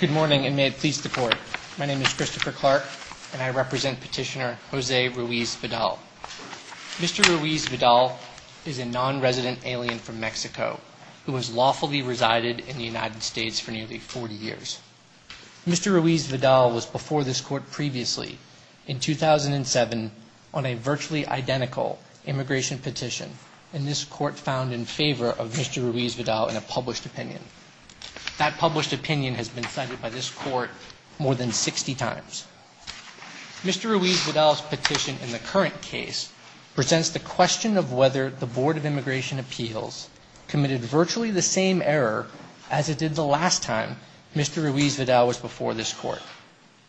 Good morning and may it please the court. My name is Christopher Clark and I represent petitioner Jose Ruiz-Vidal. Mr. Ruiz-Vidal is a non-resident alien from Mexico who has lawfully resided in the United States for nearly 40 years. Mr. Ruiz-Vidal was before this court previously in 2007 on a virtually identical immigration petition and this court found in favor of Mr. Ruiz-Vidal's petition in the current case presents the question of whether the Board of Immigration Appeals committed virtually the same error as it did the last time Mr. Ruiz-Vidal was before this court,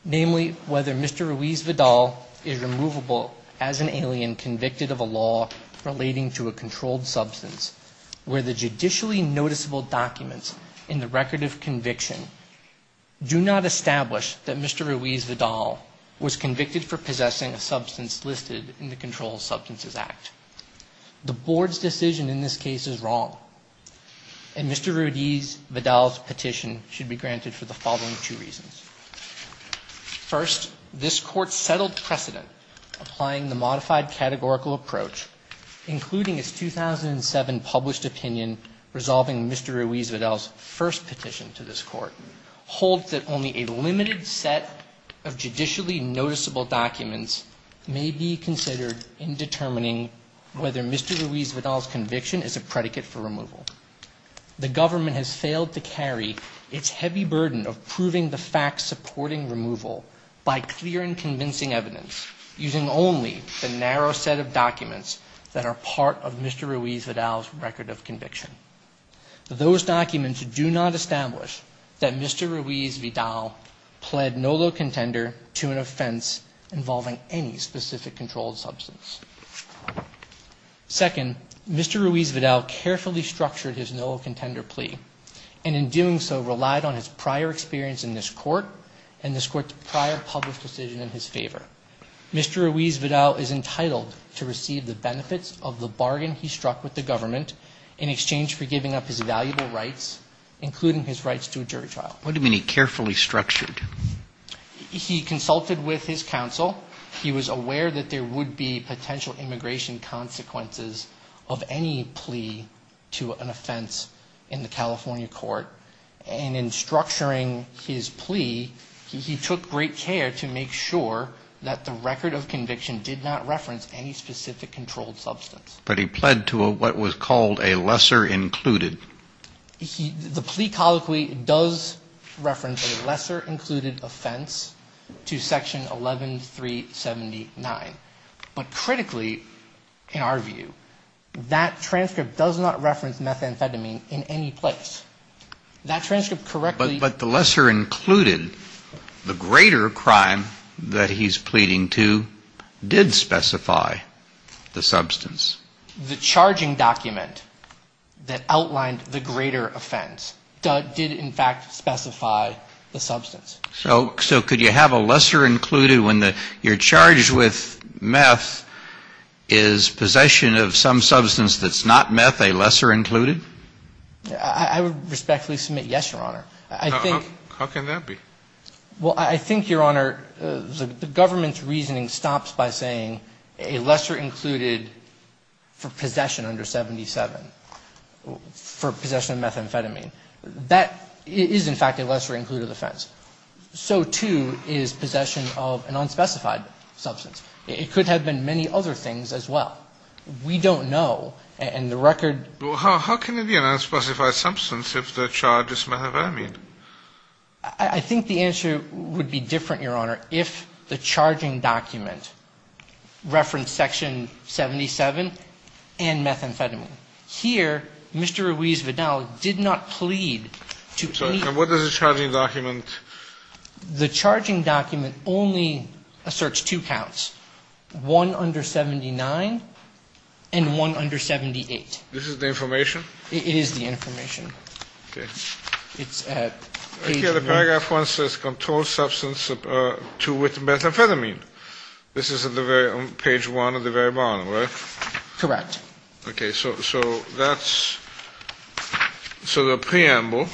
namely whether Mr. Ruiz-Vidal is removable as an alien convicted of a law relating to a Do not establish that Mr. Ruiz-Vidal was convicted for possessing a substance listed in the Control of Substances Act. The Board's decision in this case is wrong and Mr. Ruiz-Vidal's petition should be granted for the following two reasons. First, this court settled precedent applying the modified categorical approach including its 2007 published opinion resolving Mr. Ruiz-Vidal's first petition to this court holds that only a limited set of judicially noticeable documents may be considered in determining whether Mr. Ruiz-Vidal's conviction is a predicate for removal. The government has failed to carry its heavy burden of proving the facts supporting removal by clear and convincing evidence using only the narrow set of documents that are part of Mr. Ruiz-Vidal's record of that Mr. Ruiz-Vidal pled no low contender to an offense involving any specific controlled substance. Second, Mr. Ruiz-Vidal carefully structured his no contender plea and in doing so relied on his prior experience in this court and this court's prior published decision in his favor. Mr. Ruiz-Vidal is entitled to receive the benefits of the bargain he struck with the What do you mean he carefully structured? He consulted with his counsel. He was aware that there would be potential immigration consequences of any plea to an offense in the California court and in structuring his plea he took great care to make sure that the record of conviction did not reference any specific controlled substance. But he pled to what was called a lesser included. The plea colloquy does reference a lesser included offense to section 11379 but critically in our view that transcript does not reference methamphetamine in any place. That transcript correctly but the lesser included the greater crime that he's pleading to did specify the offense. Did in fact specify the substance. So could you have a lesser included when you're charged with meth is possession of some substance that's not meth a lesser included? I would respectfully submit yes, Your Honor. How can that be? Well, I think, Your Honor, the government's reasoning stops by saying a lesser included for possession under 77 for possession of methamphetamine. That is in fact a lesser included offense. So too is possession of an unspecified substance. It could have been many other things as well. We don't know and the record. How can it be an unspecified substance if the charge is methamphetamine? I think the answer would be different, Your Honor, if the charging document referenced section 77 and methamphetamine. Here, Mr. Ruiz-Vidal did not plead to any. And what does the charging document? The charging document only asserts two counts, one under 79 and one under 78. This is the information? It is the information. Okay. It's at the paragraph one says control substance two with methamphetamine. This is at the very page one at the very bottom, right? Correct. Okay. So that's so the preamble.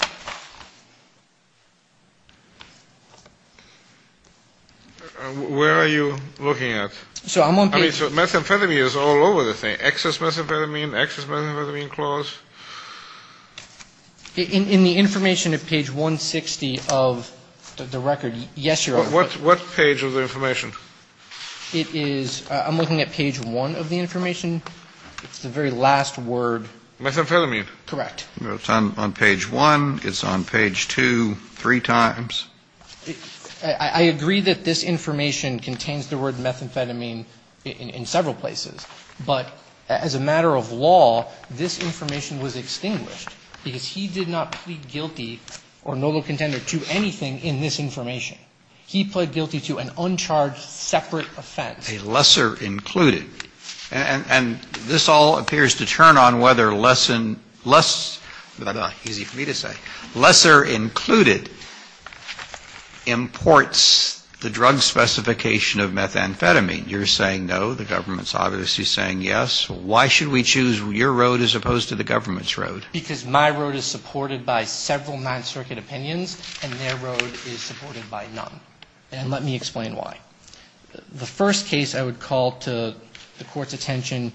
Where are you looking at? So I'm on. Methamphetamine is all over the thing. Excess methamphetamine, excess methamphetamine clause. In the information at page 160 of the record. Yes, Your Honor. What page of the information? It is I'm looking at page one of the information. It's the very last word. Methamphetamine. Correct. It's on page one. It's on page two, three times. I agree that this information contains the word methamphetamine in several places. But as a matter of law, this information was extinguished because he did not plead guilty or not a contender to anything in this information. He pled guilty to an uncharged separate offense. A lesser included. And this all appears to turn on whether less and less, that's not easy for me to say, lesser included imports the drug specification of methamphetamine. You're saying no. The government's obviously saying yes. Why should we choose your road as opposed to the government's road? Because my road is supported by several Ninth Circuit opinions and their road is supported by none. And let me explain why. The first case I would call to the court's attention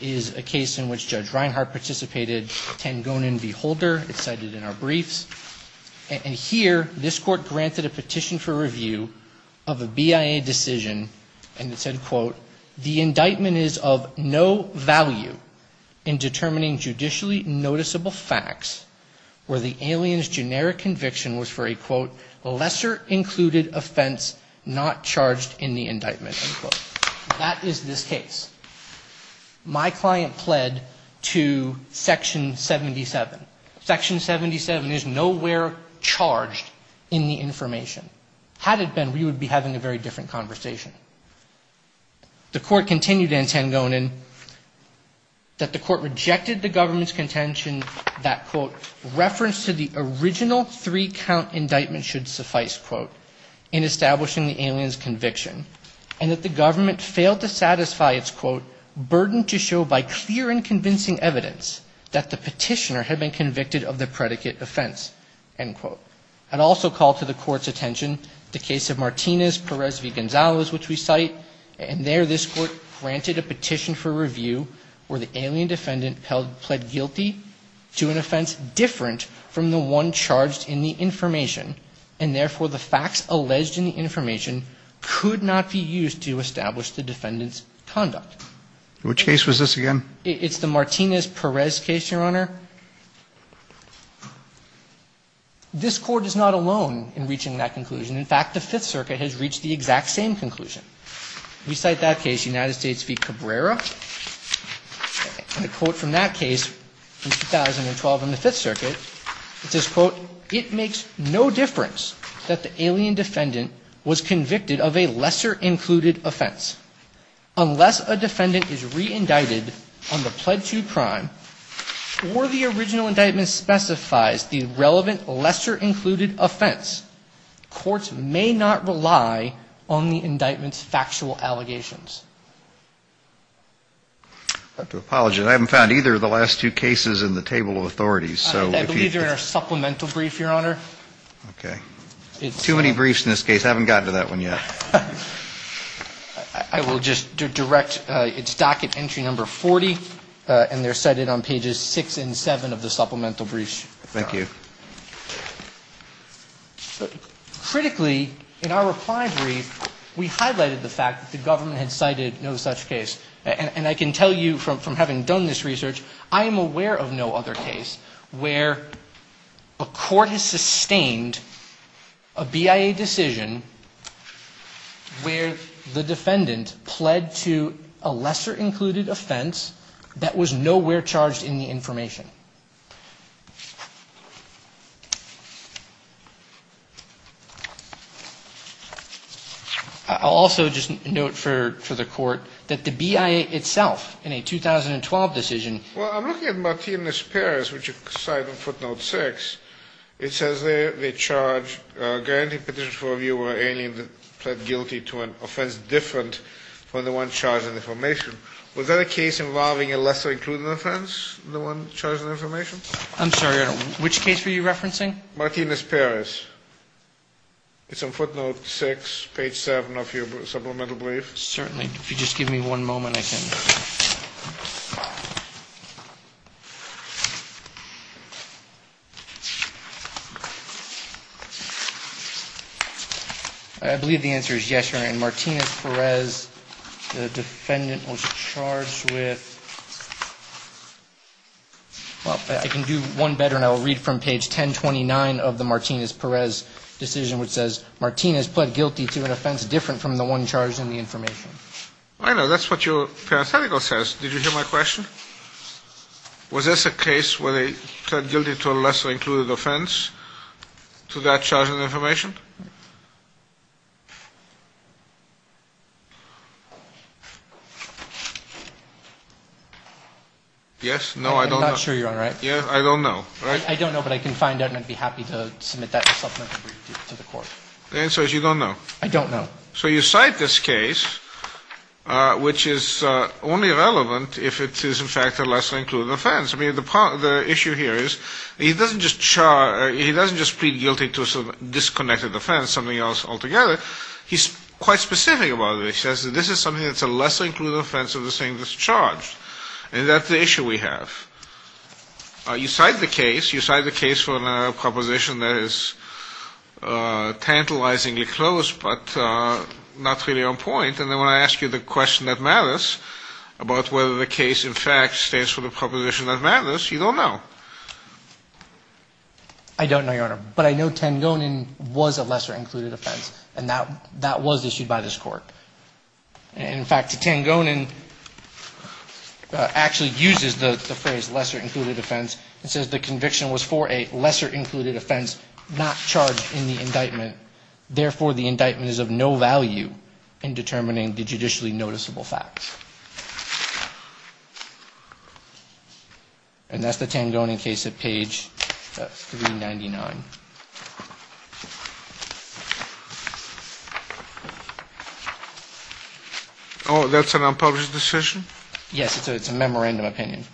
is a case in which Judge Reinhart participated, Tangonen v. Holder. It's cited in our briefs. And here, this court granted a petition for a decision, and it said, quote, the indictment is of no value in determining judicially noticeable facts where the alien's generic conviction was for a, quote, lesser included offense not charged in the indictment, unquote. That is this case. My client pled to section 77. Section 77 is nowhere charged in the information. Had it been charged in the information, the court continued in Tangonen that the court rejected the government's contention that, quote, reference to the original three-count indictment should suffice, quote, in establishing the alien's conviction, and that the government failed to satisfy its, quote, burden to show by clear and convincing evidence that the petitioner had been convicted of the predicate offense, end quote. I'd also call to the court's attention the case of Martinez-Perez v. Gonzales, which we cite. And there, this court granted a petition for review where the alien defendant pled guilty to an offense different from the one charged in the information, and therefore the facts alleged in the information could not be used to establish the defendant's conduct. Which case was this again? It's the Martinez-Perez case, Your Honor. This court is not alone in reaching that conclusion. In fact, the Fifth Circuit has reached the exact same conclusion. We cite that case, United States v. Cabrera. And a quote from that case in 2012 in the Fifth Circuit, it says, quote, it makes no difference that the alien defendant was convicted of a lesser-included offense. Unless a defendant is re-indicted on the pled to crime or the original indictment specifies the relevant lesser-included offense, courts may not rely on the indictment's factual allegations. I have to apologize. I haven't found either of the last two cases in the table of authorities. Okay. Too many briefs in this case. I haven't gotten to that one yet. I will just direct its docket entry number 40, and they're cited on pages 6 and 7 of the supplemental briefs. Thank you. Critically, in our reply brief, we highlighted the fact that the government had cited no such case. And I can tell you from having done this research, I am aware of no other case where a court has sustained a BIA decision where the defendant pled to a lesser-included offense that was nowhere charged in the information. I'll also just note for the Court that the BIA itself, in a 2012 decision Well, I'm looking at Martinez-Perez, which you cite on footnote 6. It says there they charge a guarantee petition for a viewer alien that pled guilty to an offense different from the one charged in the information. Was that a case involving a lesser-included offense, the one charged in the information? I'm sorry, which case were you referencing? Martinez-Perez. It's on footnote 6, page 7 of your supplemental brief. Certainly. If you just give me one moment, I can... I believe the answer is yes, Your Honor. In Martinez-Perez, the defendant was charged with... Well, I can do one better, and I will read from page 1029 of the Martinez-Perez decision, which says, Martinez pled guilty to an offense different from the one charged in the information. I know, that's what your parenthetical says. Did you hear my question? Was this a case where they pled guilty to a lesser-included offense to that charge in the information? Yes? No, I don't know. I'm not sure, Your Honor. Yes, I don't know. I don't know, but I can find out, and I'd be happy to submit that to the court. The answer is you don't know. I don't know. So you cite this case, which is only relevant if it is, in fact, a lesser-included offense. I mean, the issue here is, he doesn't just plead guilty to a disconnected offense, something else altogether. He's quite specific about it. He says that this is something that's a lesser-included offense of the same that's charged, and that's the issue we have. You cite the case. You cite the case for a proposition that is tantalizingly close, but not really on point. And then when I ask you the question that matters about whether the case, in fact, stands for the proposition that matters, you don't know. I don't know, Your Honor, but I know Tangonin was a lesser-included offense, and that was issued by this court. In fact, Tangonin actually uses the phrase lesser-included offense and says the conviction was for a lesser-included offense, not charged in the indictment. Therefore, the indictment is of no value in determining the judicially noticeable facts. And that's the Tangonin case at page 399. Oh, that's an unpublished decision? Yes, it's a memorandum opinion.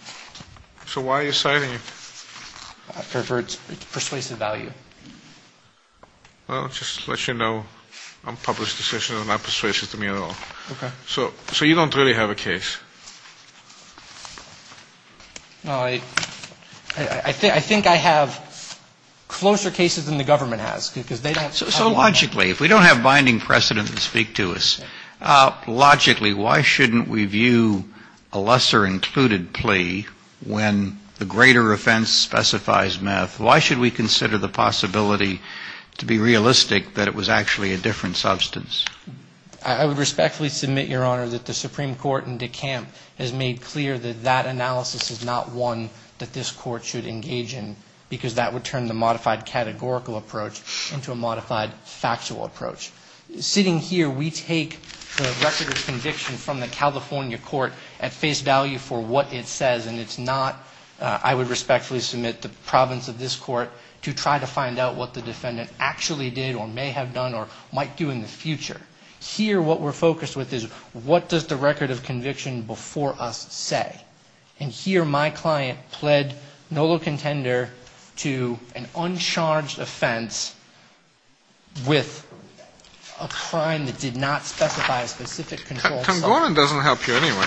So why are you citing it? For its persuasive value. Well, just to let you know, unpublished decisions are not persuasive to me at all. Okay. So you don't really have a case? No, I think I have closer cases than the government has, because they don't have one. So logically, if we don't have binding precedent to speak to us, logically, why shouldn't we have a lesser-included plea when the greater offense specifies meth? Why should we consider the possibility to be realistic that it was actually a different substance? I would respectfully submit, Your Honor, that the Supreme Court in DeKalb has made clear that that analysis is not one that this Court should engage in, because that would turn the modified categorical approach into a modified factual approach. Sitting here, we take the record of conviction from the California court at face value for what it says, and it's not, I would respectfully submit, the province of this court to try to find out what the defendant actually did or may have done or might do in the future. Here, what we're focused with is, what does the record of conviction before us say? And here, my client pled nolo contender to an uncharged offense with a crime that did not specify a specific controlled substance. Tangonin doesn't help you anyway.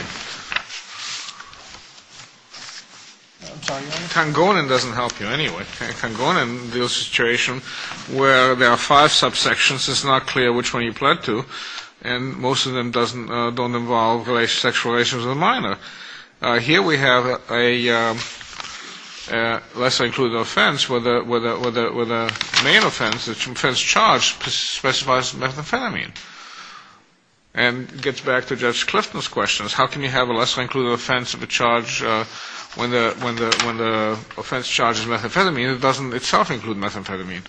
I'm sorry, Your Honor? Tangonin doesn't help you anyway. Tangonin deals with a situation where there are five subsections. It's not clear which one you pled to, and most of them don't involve sexual relations with a minor. Here, we have a lesser-included offense where the main offense, the offense charged, specifies methamphetamine. And it gets back to Judge Clifton's questions. How can you have a lesser-included offense when the offense charged is methamphetamine that doesn't itself include methamphetamine?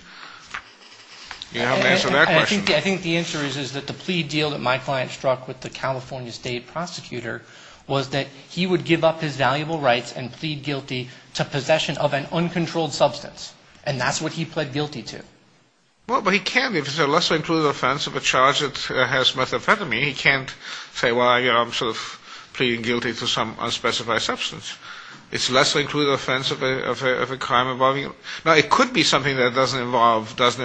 You haven't answered that question. I think the answer is that the plea deal that my client struck with the California state prosecutor was that he would give up his valuable rights and plead guilty to possession of an uncontrolled substance. And that's what he pled guilty to. Well, but he can't. If it's a lesser-included offense of a charge that has methamphetamine, he can't say, well, you know, I'm sort of pleading guilty to some unspecified substance. It's a lesser-included offense of a crime involving. Now, it could be something that doesn't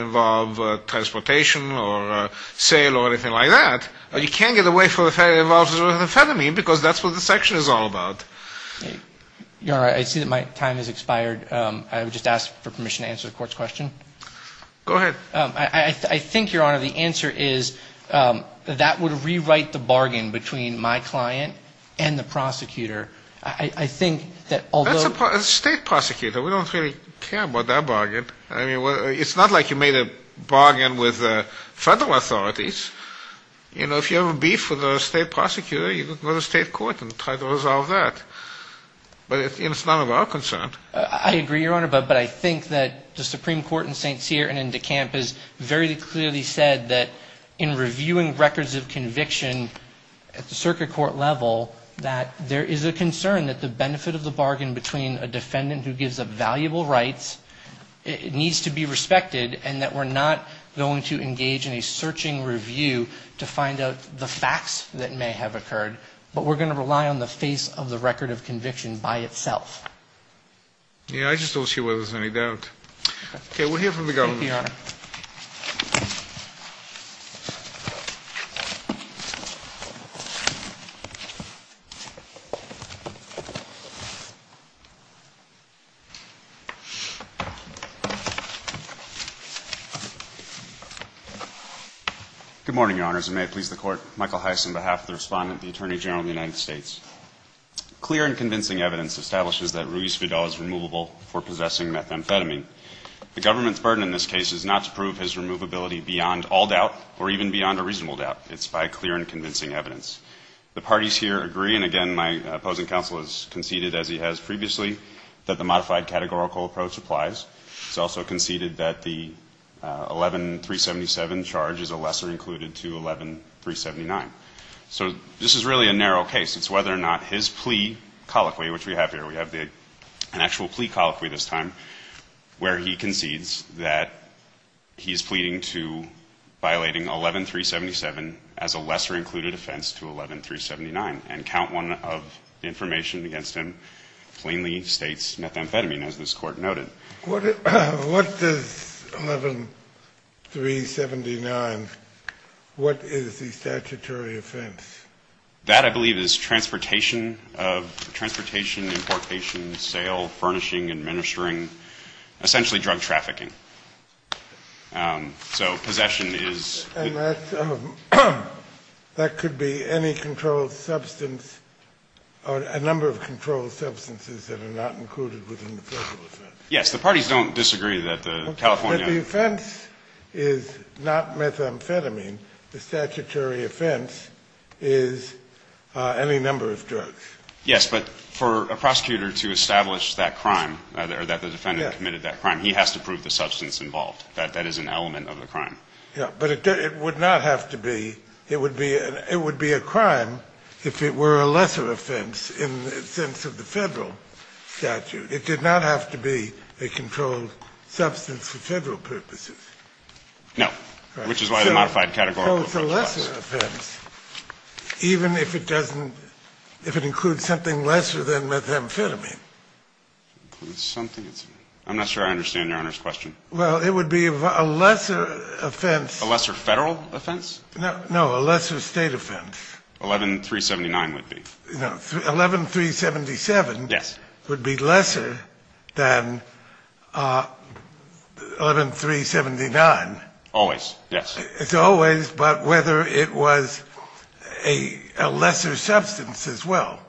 involve transportation or sale or anything like that. You can't get away from it if it involves methamphetamine because that's what the section is all about. Your Honor, I see that my time has expired. I would just ask for permission to answer the Court's question. Go ahead. I think, Your Honor, the answer is that would rewrite the bargain between my client and the prosecutor. I think that although. That's a state prosecutor. We don't really care about that bargain. I mean, it's not like you made a bargain with federal authorities. You know, if you have a beef with a state prosecutor, you can go to state court and try to resolve that. But it's none of our concern. I agree, Your Honor. But I think that the Supreme Court in St. Cyr and in De Camp has very clearly said that in reviewing records of conviction at the circuit court level, that there is a concern that the benefit of the bargain between a defendant who gives up valuable rights needs to be respected and that we're not going to engage in a searching review to find out the facts that may have occurred. But we're going to rely on the face of the record of conviction by itself. Yeah, I just don't see where there's any doubt. Okay, we'll hear from the government. Thank you, Your Honor. Good morning, Your Honors, and may it please the Court. Michael Heiss on behalf of the Respondent, the Attorney General of the United States. Clear and convincing evidence establishes that Ruiz-Fidal is removable for possessing methamphetamine. The government's burden in this case is not to prove his removability beyond all doubt or even beyond a reasonable doubt. It's by clear and convincing evidence. The parties here agree, and again, my opposing counsel has conceded as he has previously that the modified categorical approach applies. He's also conceded that the 11-377 charge is a lesser included to 11-379. So this is really a narrow case. It's whether or not his plea colloquy, which we have here, we have an actual plea colloquy this time, where he concedes that he's pleading to violating 11-377 as a lesser included offense to 11-379 and count one of information against him plainly states methamphetamine, as this Court noted. What does 11-379, what is the statutory offense? That, I believe, is transportation of transportation, importation, sale, furnishing, administering, essentially drug trafficking. So possession is... And that could be any controlled substance or a number of controlled substances that are not included within the federal offense. Yes, the parties don't disagree that the California... But the offense is not methamphetamine. The statutory offense is any number of drugs. Yes, but for a prosecutor to establish that crime or that the defendant committed that crime, he has to prove the substance involved. That is an element of the crime. Yes, but it would not have to be, it would be a crime if it were a lesser offense in the sense of the federal statute. It did not have to be a controlled substance for federal purposes. No. Which is why the modified categorical... So it's a lesser offense, even if it doesn't, if it includes something lesser than methamphetamine. Includes something? I'm not sure I understand Your Honor's question. Well, it would be a lesser offense... A lesser federal offense? No, a lesser state offense. 11-379 would be. No, 11-377 would be lesser than 11-379. Always, yes. It's always, but whether it was a lesser substance as well.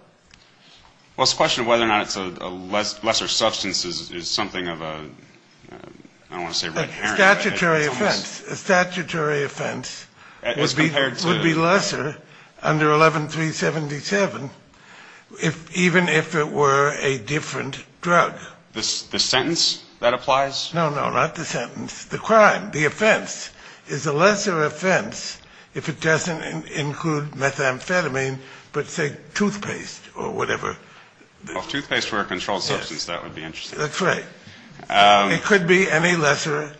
Well, it's a question of whether or not it's a lesser substance is something of a... I don't want to say red herring. Statutory offense. A statutory offense would be lesser under 11-377, even if it were a different drug. The sentence that applies? No, no, not the sentence. The crime, the offense, is a lesser offense if it doesn't include methamphetamine, but say toothpaste or whatever. Well, if toothpaste were a controlled substance, that would be interesting. That's right. It could be any lesser,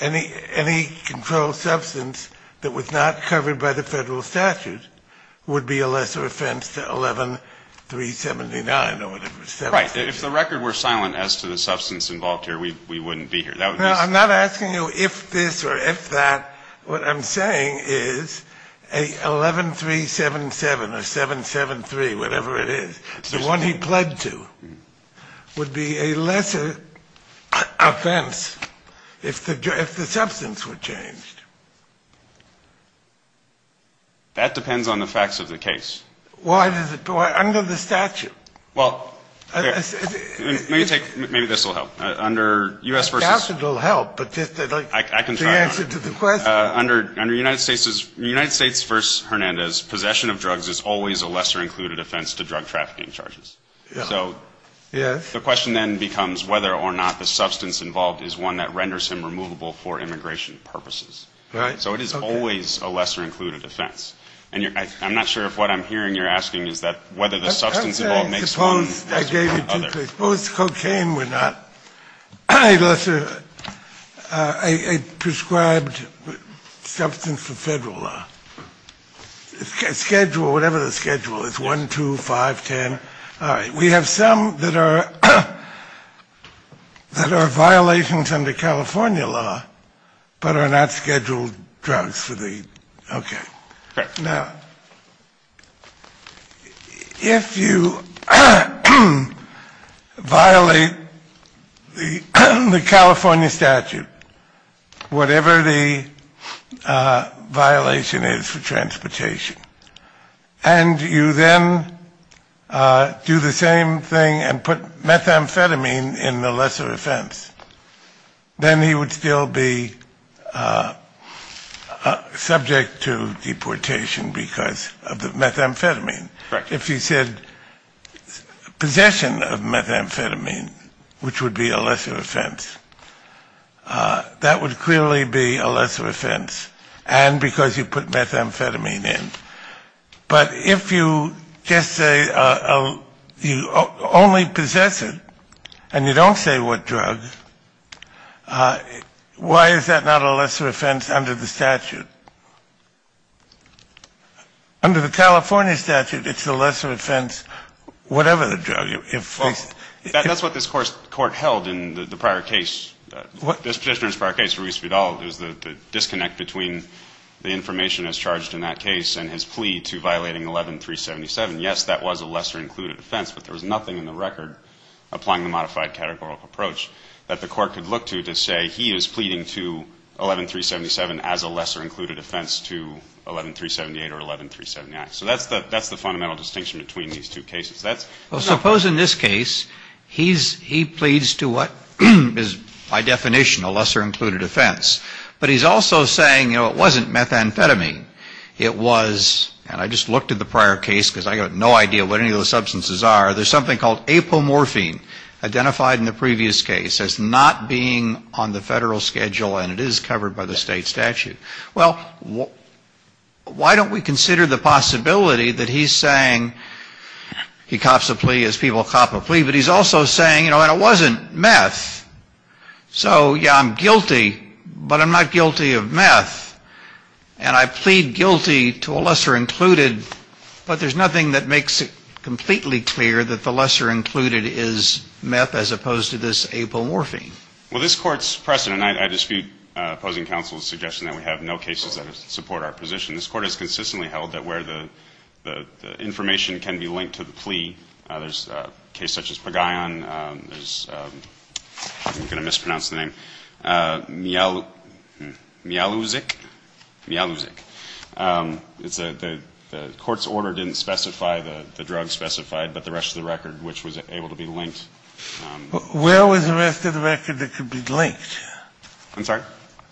any controlled substance that was not covered by the federal statute would be a lesser offense than 11-379 or whatever. Right. If the record were silent as to the substance involved here, we wouldn't be here. No, I'm not asking you if this or if that. What I'm saying is a 11-377 or 773, whatever it is, the one he pled to, would be a lesser offense if the substance were changed. That depends on the facts of the case. Why does it? Under the statute. Well, maybe this will help. The statute will help, but just the answer to the question. I can try. Under United States v. Hernandez, possession of drugs is always a lesser included offense to drug trafficking charges. Yes. The question then becomes whether or not the substance involved is one that renders him removable for immigration purposes. Right. So it is always a lesser included offense. I'm not sure if what I'm hearing you're asking is that whether the substance involved makes one. Suppose cocaine were not a prescribed substance for federal law. Schedule, whatever the schedule is, 1, 2, 5, 10. All right. We have some that are violations under California law but are not scheduled drugs for the. Okay. Correct. Now, if you violate the California statute, whatever the violation is for transportation, and you then do the same thing and put methamphetamine in the lesser offense, then he would still be subject to deportation because of the methamphetamine. Correct. If you said possession of methamphetamine, which would be a lesser offense, that would clearly be a lesser offense, and because you put methamphetamine in. But if you just say you only possess it and you don't say what drug, why is that not a lesser offense under the statute? Under the California statute, it's a lesser offense whatever the drug. That's what this Court held in the prior case. This petitioner's prior case, Ruiz Vidal, there's the disconnect between the information as charged in that case and his plea to violating 11-377. Yes, that was a lesser-included offense, but there was nothing in the record applying the modified categorical approach that the Court could look to to say he is pleading to 11-377 as a lesser-included offense to 11-378 or 11-379. So that's the fundamental distinction between these two cases. Well, suppose in this case he pleads to what is by definition a lesser-included offense, but he's also saying, you know, it wasn't methamphetamine. It was, and I just looked at the prior case because I have no idea what any of those substances are, there's something called apomorphine identified in the previous case as not being on the federal schedule and it is covered by the state statute. Well, why don't we consider the possibility that he's saying he cops a plea as people cop a plea, but he's also saying, you know, and it wasn't meth. So, yeah, I'm guilty, but I'm not guilty of meth and I plead guilty to a lesser-included, but there's nothing that makes it completely clear that the lesser-included is meth as opposed to this apomorphine. Well, this Court's precedent, and I dispute opposing counsel's suggestion that we have no cases that support our position. This Court has consistently held that where the information can be linked to the plea, there's a case such as Pagayan. I'm going to mispronounce the name. Mialuzic. Mialuzic. The Court's order didn't specify the drug specified, but the rest of the record, which was able to be linked. Where was the rest of the record that could be linked? I'm sorry?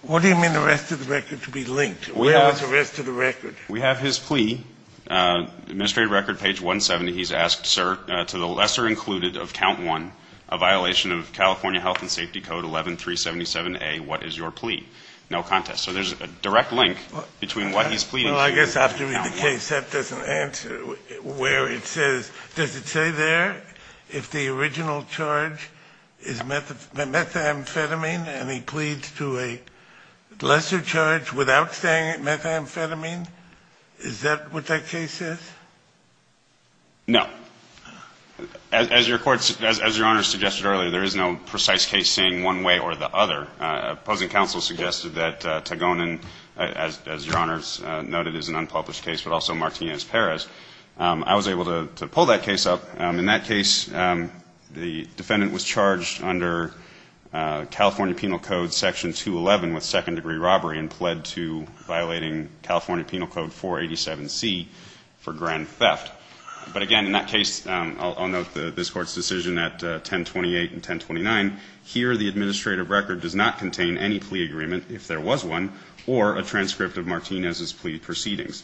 What do you mean the rest of the record could be linked? Where was the rest of the record? We have his plea. Administrative record, page 170, he's asked, sir, to the lesser-included of count one, a violation of California Health and Safety Code 11377A, what is your plea? No contest. So there's a direct link between what he's pleading... Well, I guess I have to read the case. That doesn't answer where it says... Does it say there if the original charge is methamphetamine and he pleads to a lesser charge without saying methamphetamine? Is that what that case says? No. As Your Honor suggested earlier, there is no precise case saying one way or the other. Opposing counsel suggested that Tagonan, as Your Honor noted, is an unpublished case, but also Martinez-Perez. I was able to pull that case up. In that case, the defendant was charged under California Penal Code Section 211 with second-degree robbery and pled to violating California Penal Code 487C for grand theft. But again, in that case, I'll note this Court's decision at 1028 and 1029. Here, the administrative record does not contain any plea agreement, if there was one, or a transcript of Martinez's plea proceedings.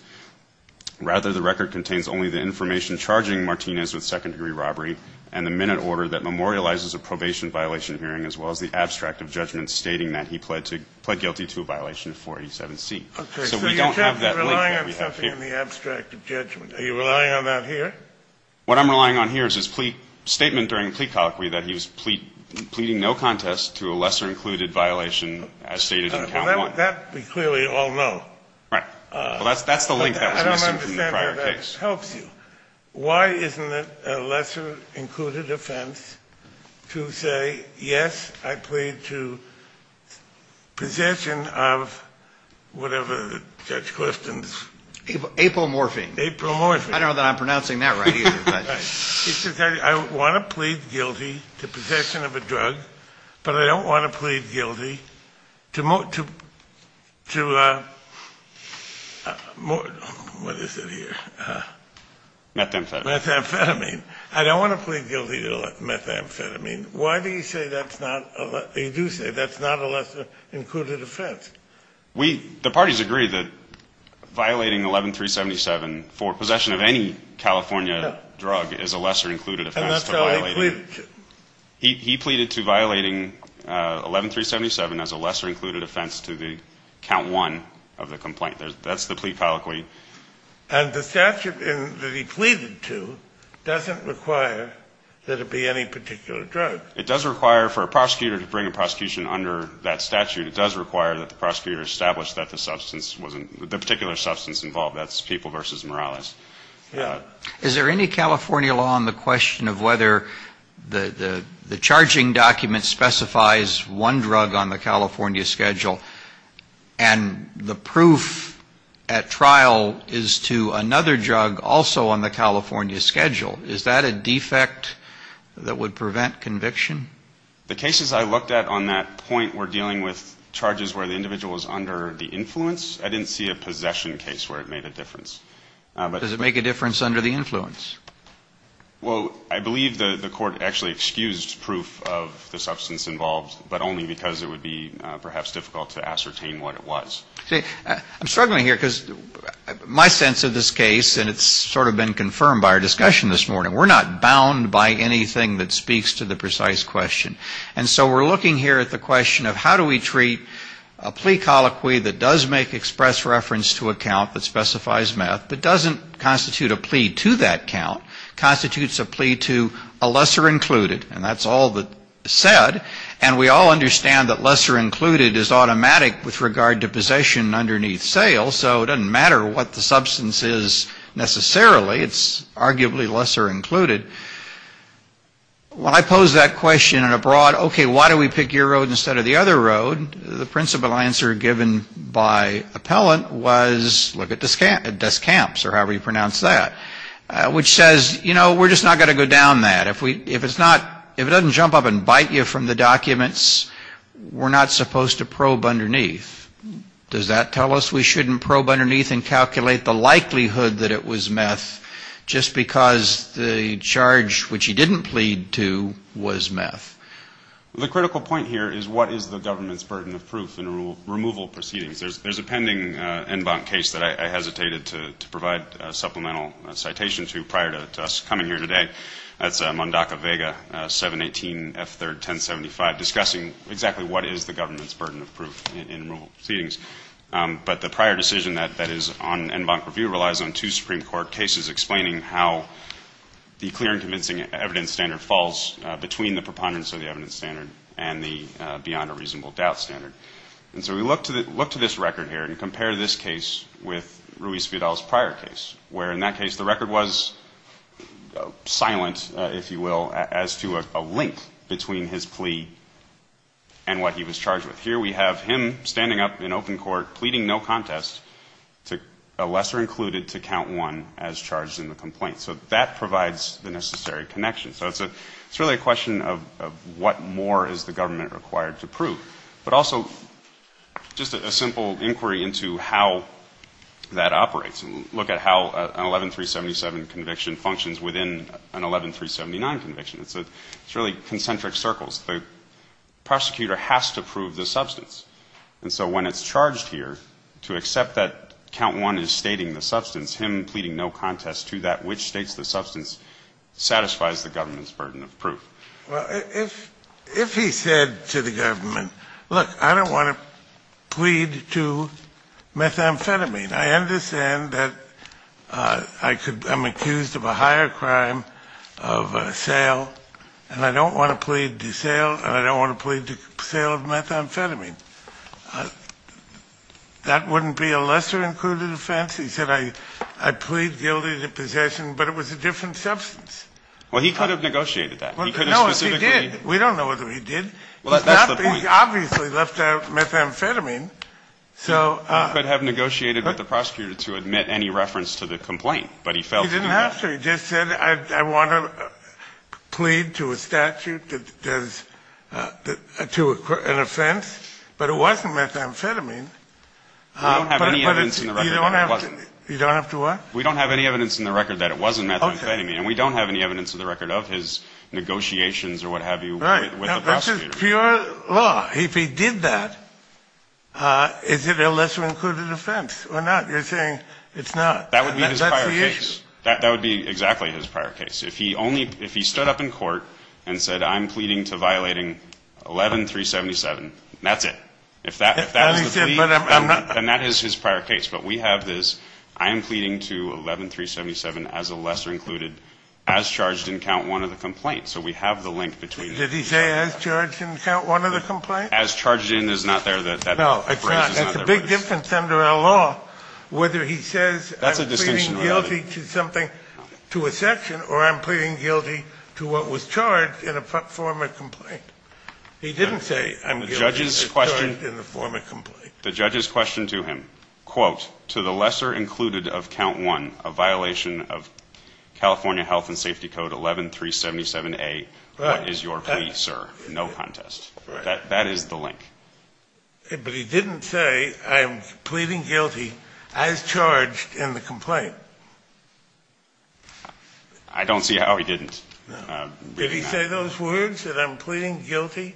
Rather, the record contains only the information charging Martinez with second-degree robbery and the minute order that memorializes a probation violation hearing as well as the abstract of judgment stating that he pled guilty to a violation of 487C. So we don't have that link that we have here. Okay, so you're relying on something in the abstract of judgment. Are you relying on that here? What I'm relying on here is his plea statement during plea colloquy that he was pleading no contest to a lesser-included violation as stated in Count 1. That we clearly all know. Right. Well, that's the link that was missing from the prior case. I don't understand how that helps you. Why isn't it a lesser-included offense to say, yes, I plead to possession of whatever the judge questions? Apomorphine. Apomorphine. I don't know that I'm pronouncing that right either. It's because I want to plead guilty to possession of a drug, but I don't want to plead guilty to... What is it here? Methamphetamine. Methamphetamine. I don't want to plead guilty to methamphetamine. Why do you say that's not... You do say that's not a lesser-included offense. We... The parties agree that violating 11377 for possession of any California drug is a lesser-included offense. And that's how he pleaded. He pleaded to violating 11377 as a lesser-included offense to the Count 1 of the complaint. That's the plea colloquy. And the statute that he pleaded to doesn't require that it be any particular drug. It does require for a prosecutor to bring a prosecution under that statute. It does require that the prosecutor establish that the substance wasn't... The particular substance involved, that's people versus morales. Yeah. Is there any California law on the question of whether the charging document specifies one drug on the California schedule and the proof at trial is to another drug also on the California schedule? Is that a defect that would prevent conviction? The cases I looked at on that point were dealing with charges where the individual was under the influence. I didn't see a possession case where it made a difference. Does it make a difference under the influence? Well, I believe the court actually excused proof of the substance involved, but only because it would be perhaps difficult to ascertain what it was. See, I'm struggling here because my sense of this case, and it's sort of been confirmed by our discussion this morning, we're not bound by anything that speaks to the precise question. And so we're looking here at the question of how do we treat a plea colloquy that does make express reference to a count that specifies meth but doesn't constitute a plea to that count, constitutes a plea to a lesser included. And that's all that's said. And we all understand that lesser included is automatic with regard to possession underneath sale, so it doesn't matter what the substance is necessarily. It's arguably lesser included. When I pose that question in a broad, okay, why do we pick your road instead of the other road? The principal answer given by appellant was look at Descamps or however you pronounce that, which says, you know, we're just not going to go down that. If it's not, if it doesn't jump up and bite you from the documents, we're not supposed to probe underneath. Does that tell us we shouldn't probe underneath and calculate the likelihood that it was meth just because the charge which he didn't plead to was meth? The critical point here is what is the government's burden of proof in removal proceedings? There's a pending en banc case that I hesitated to provide supplemental citation to prior to us coming here today. That's Mondaca Vega, 718 F3rd 1075, discussing exactly what is the government's burden of proof in removal proceedings. But the prior decision that is on en banc review relies on two Supreme Court cases explaining how the clear and convincing evidence standard falls between the preponderance of the evidence standard and the beyond a reasonable doubt standard. And so we look to this record here and compare this case with Ruiz Fidel's prior case where in that case the record was silent, if you will, as to a link between his plea and what he was charged with. Here we have him standing up in open court pleading no contest to a lesser included to count one as charged in the complaint. So that provides the necessary connection. So it's really a question of what more is the government required to prove. But also just a simple inquiry into how that operates. Look at how an 11-377 conviction functions within an 11-379 conviction. It's really concentric circles. The prosecutor has to prove the substance. And so when it's charged here to accept that count one is stating the substance him pleading no contest to that which states the substance satisfies the government's burden of proof. Well, if he said look, I don't want to plead to methamphetamine. I understand that I could I'm accused of a higher crime of sale and I don't want to plead to sale and I don't want to plead to sale of methamphetamine. That wouldn't be a lesser included offense. He said I plead guilty to possession but it was a different substance. Well, he could have negotiated that. No, he did. We don't know whether he did. He obviously left out methamphetamine. He could have negotiated with the prosecutor to admit any reference to the complaint. He didn't have to. He just said I want to plead to a statute to an offense but it wasn't methamphetamine. We don't have any evidence in the record that it wasn't methamphetamine and we don't have any evidence in the record of his negotiations with the prosecutor. Pure law. If he did that is it a lesser included offense or not? You're saying it's not. That would be exactly his prior case. If he stood up in court and said I'm pleading to violating 11-377 that's it. And that is his prior case but we have this I am pleading to 11-377 as a lesser included as charged in count one of the complaint. So we have the link between it. Did he say as charged in count one of the complaint? As charged in is not there. It's a big difference under our law whether he says I'm pleading guilty to a section or I'm pleading guilty to what was charged in a former complaint. He didn't say I'm pleading guilty to what was charged in the former complaint. The judge's question to him, quote, to the lesser included of count one of violation of California health and safety code 11377A what is your plea, sir? No contest. That is the link. But he didn't say I'm pleading guilty as charged in the complaint. I don't see how he didn't. Did he say those words that I'm pleading guilty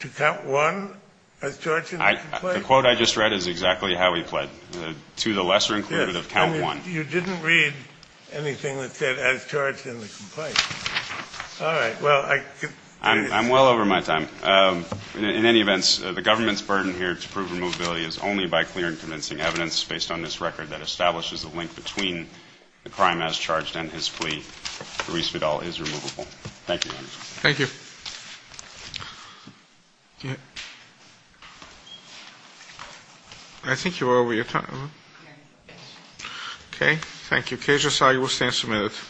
to count one as charged in the complaint? The quote I just read is exactly how he pled to the lesser included of count one. You didn't read anything that said as charged in the complaint. I'm well over my time. In any events, the government's burden here to prove removability is only by clearing convincing evidence based on this record that establishes the link between the crime as charged in his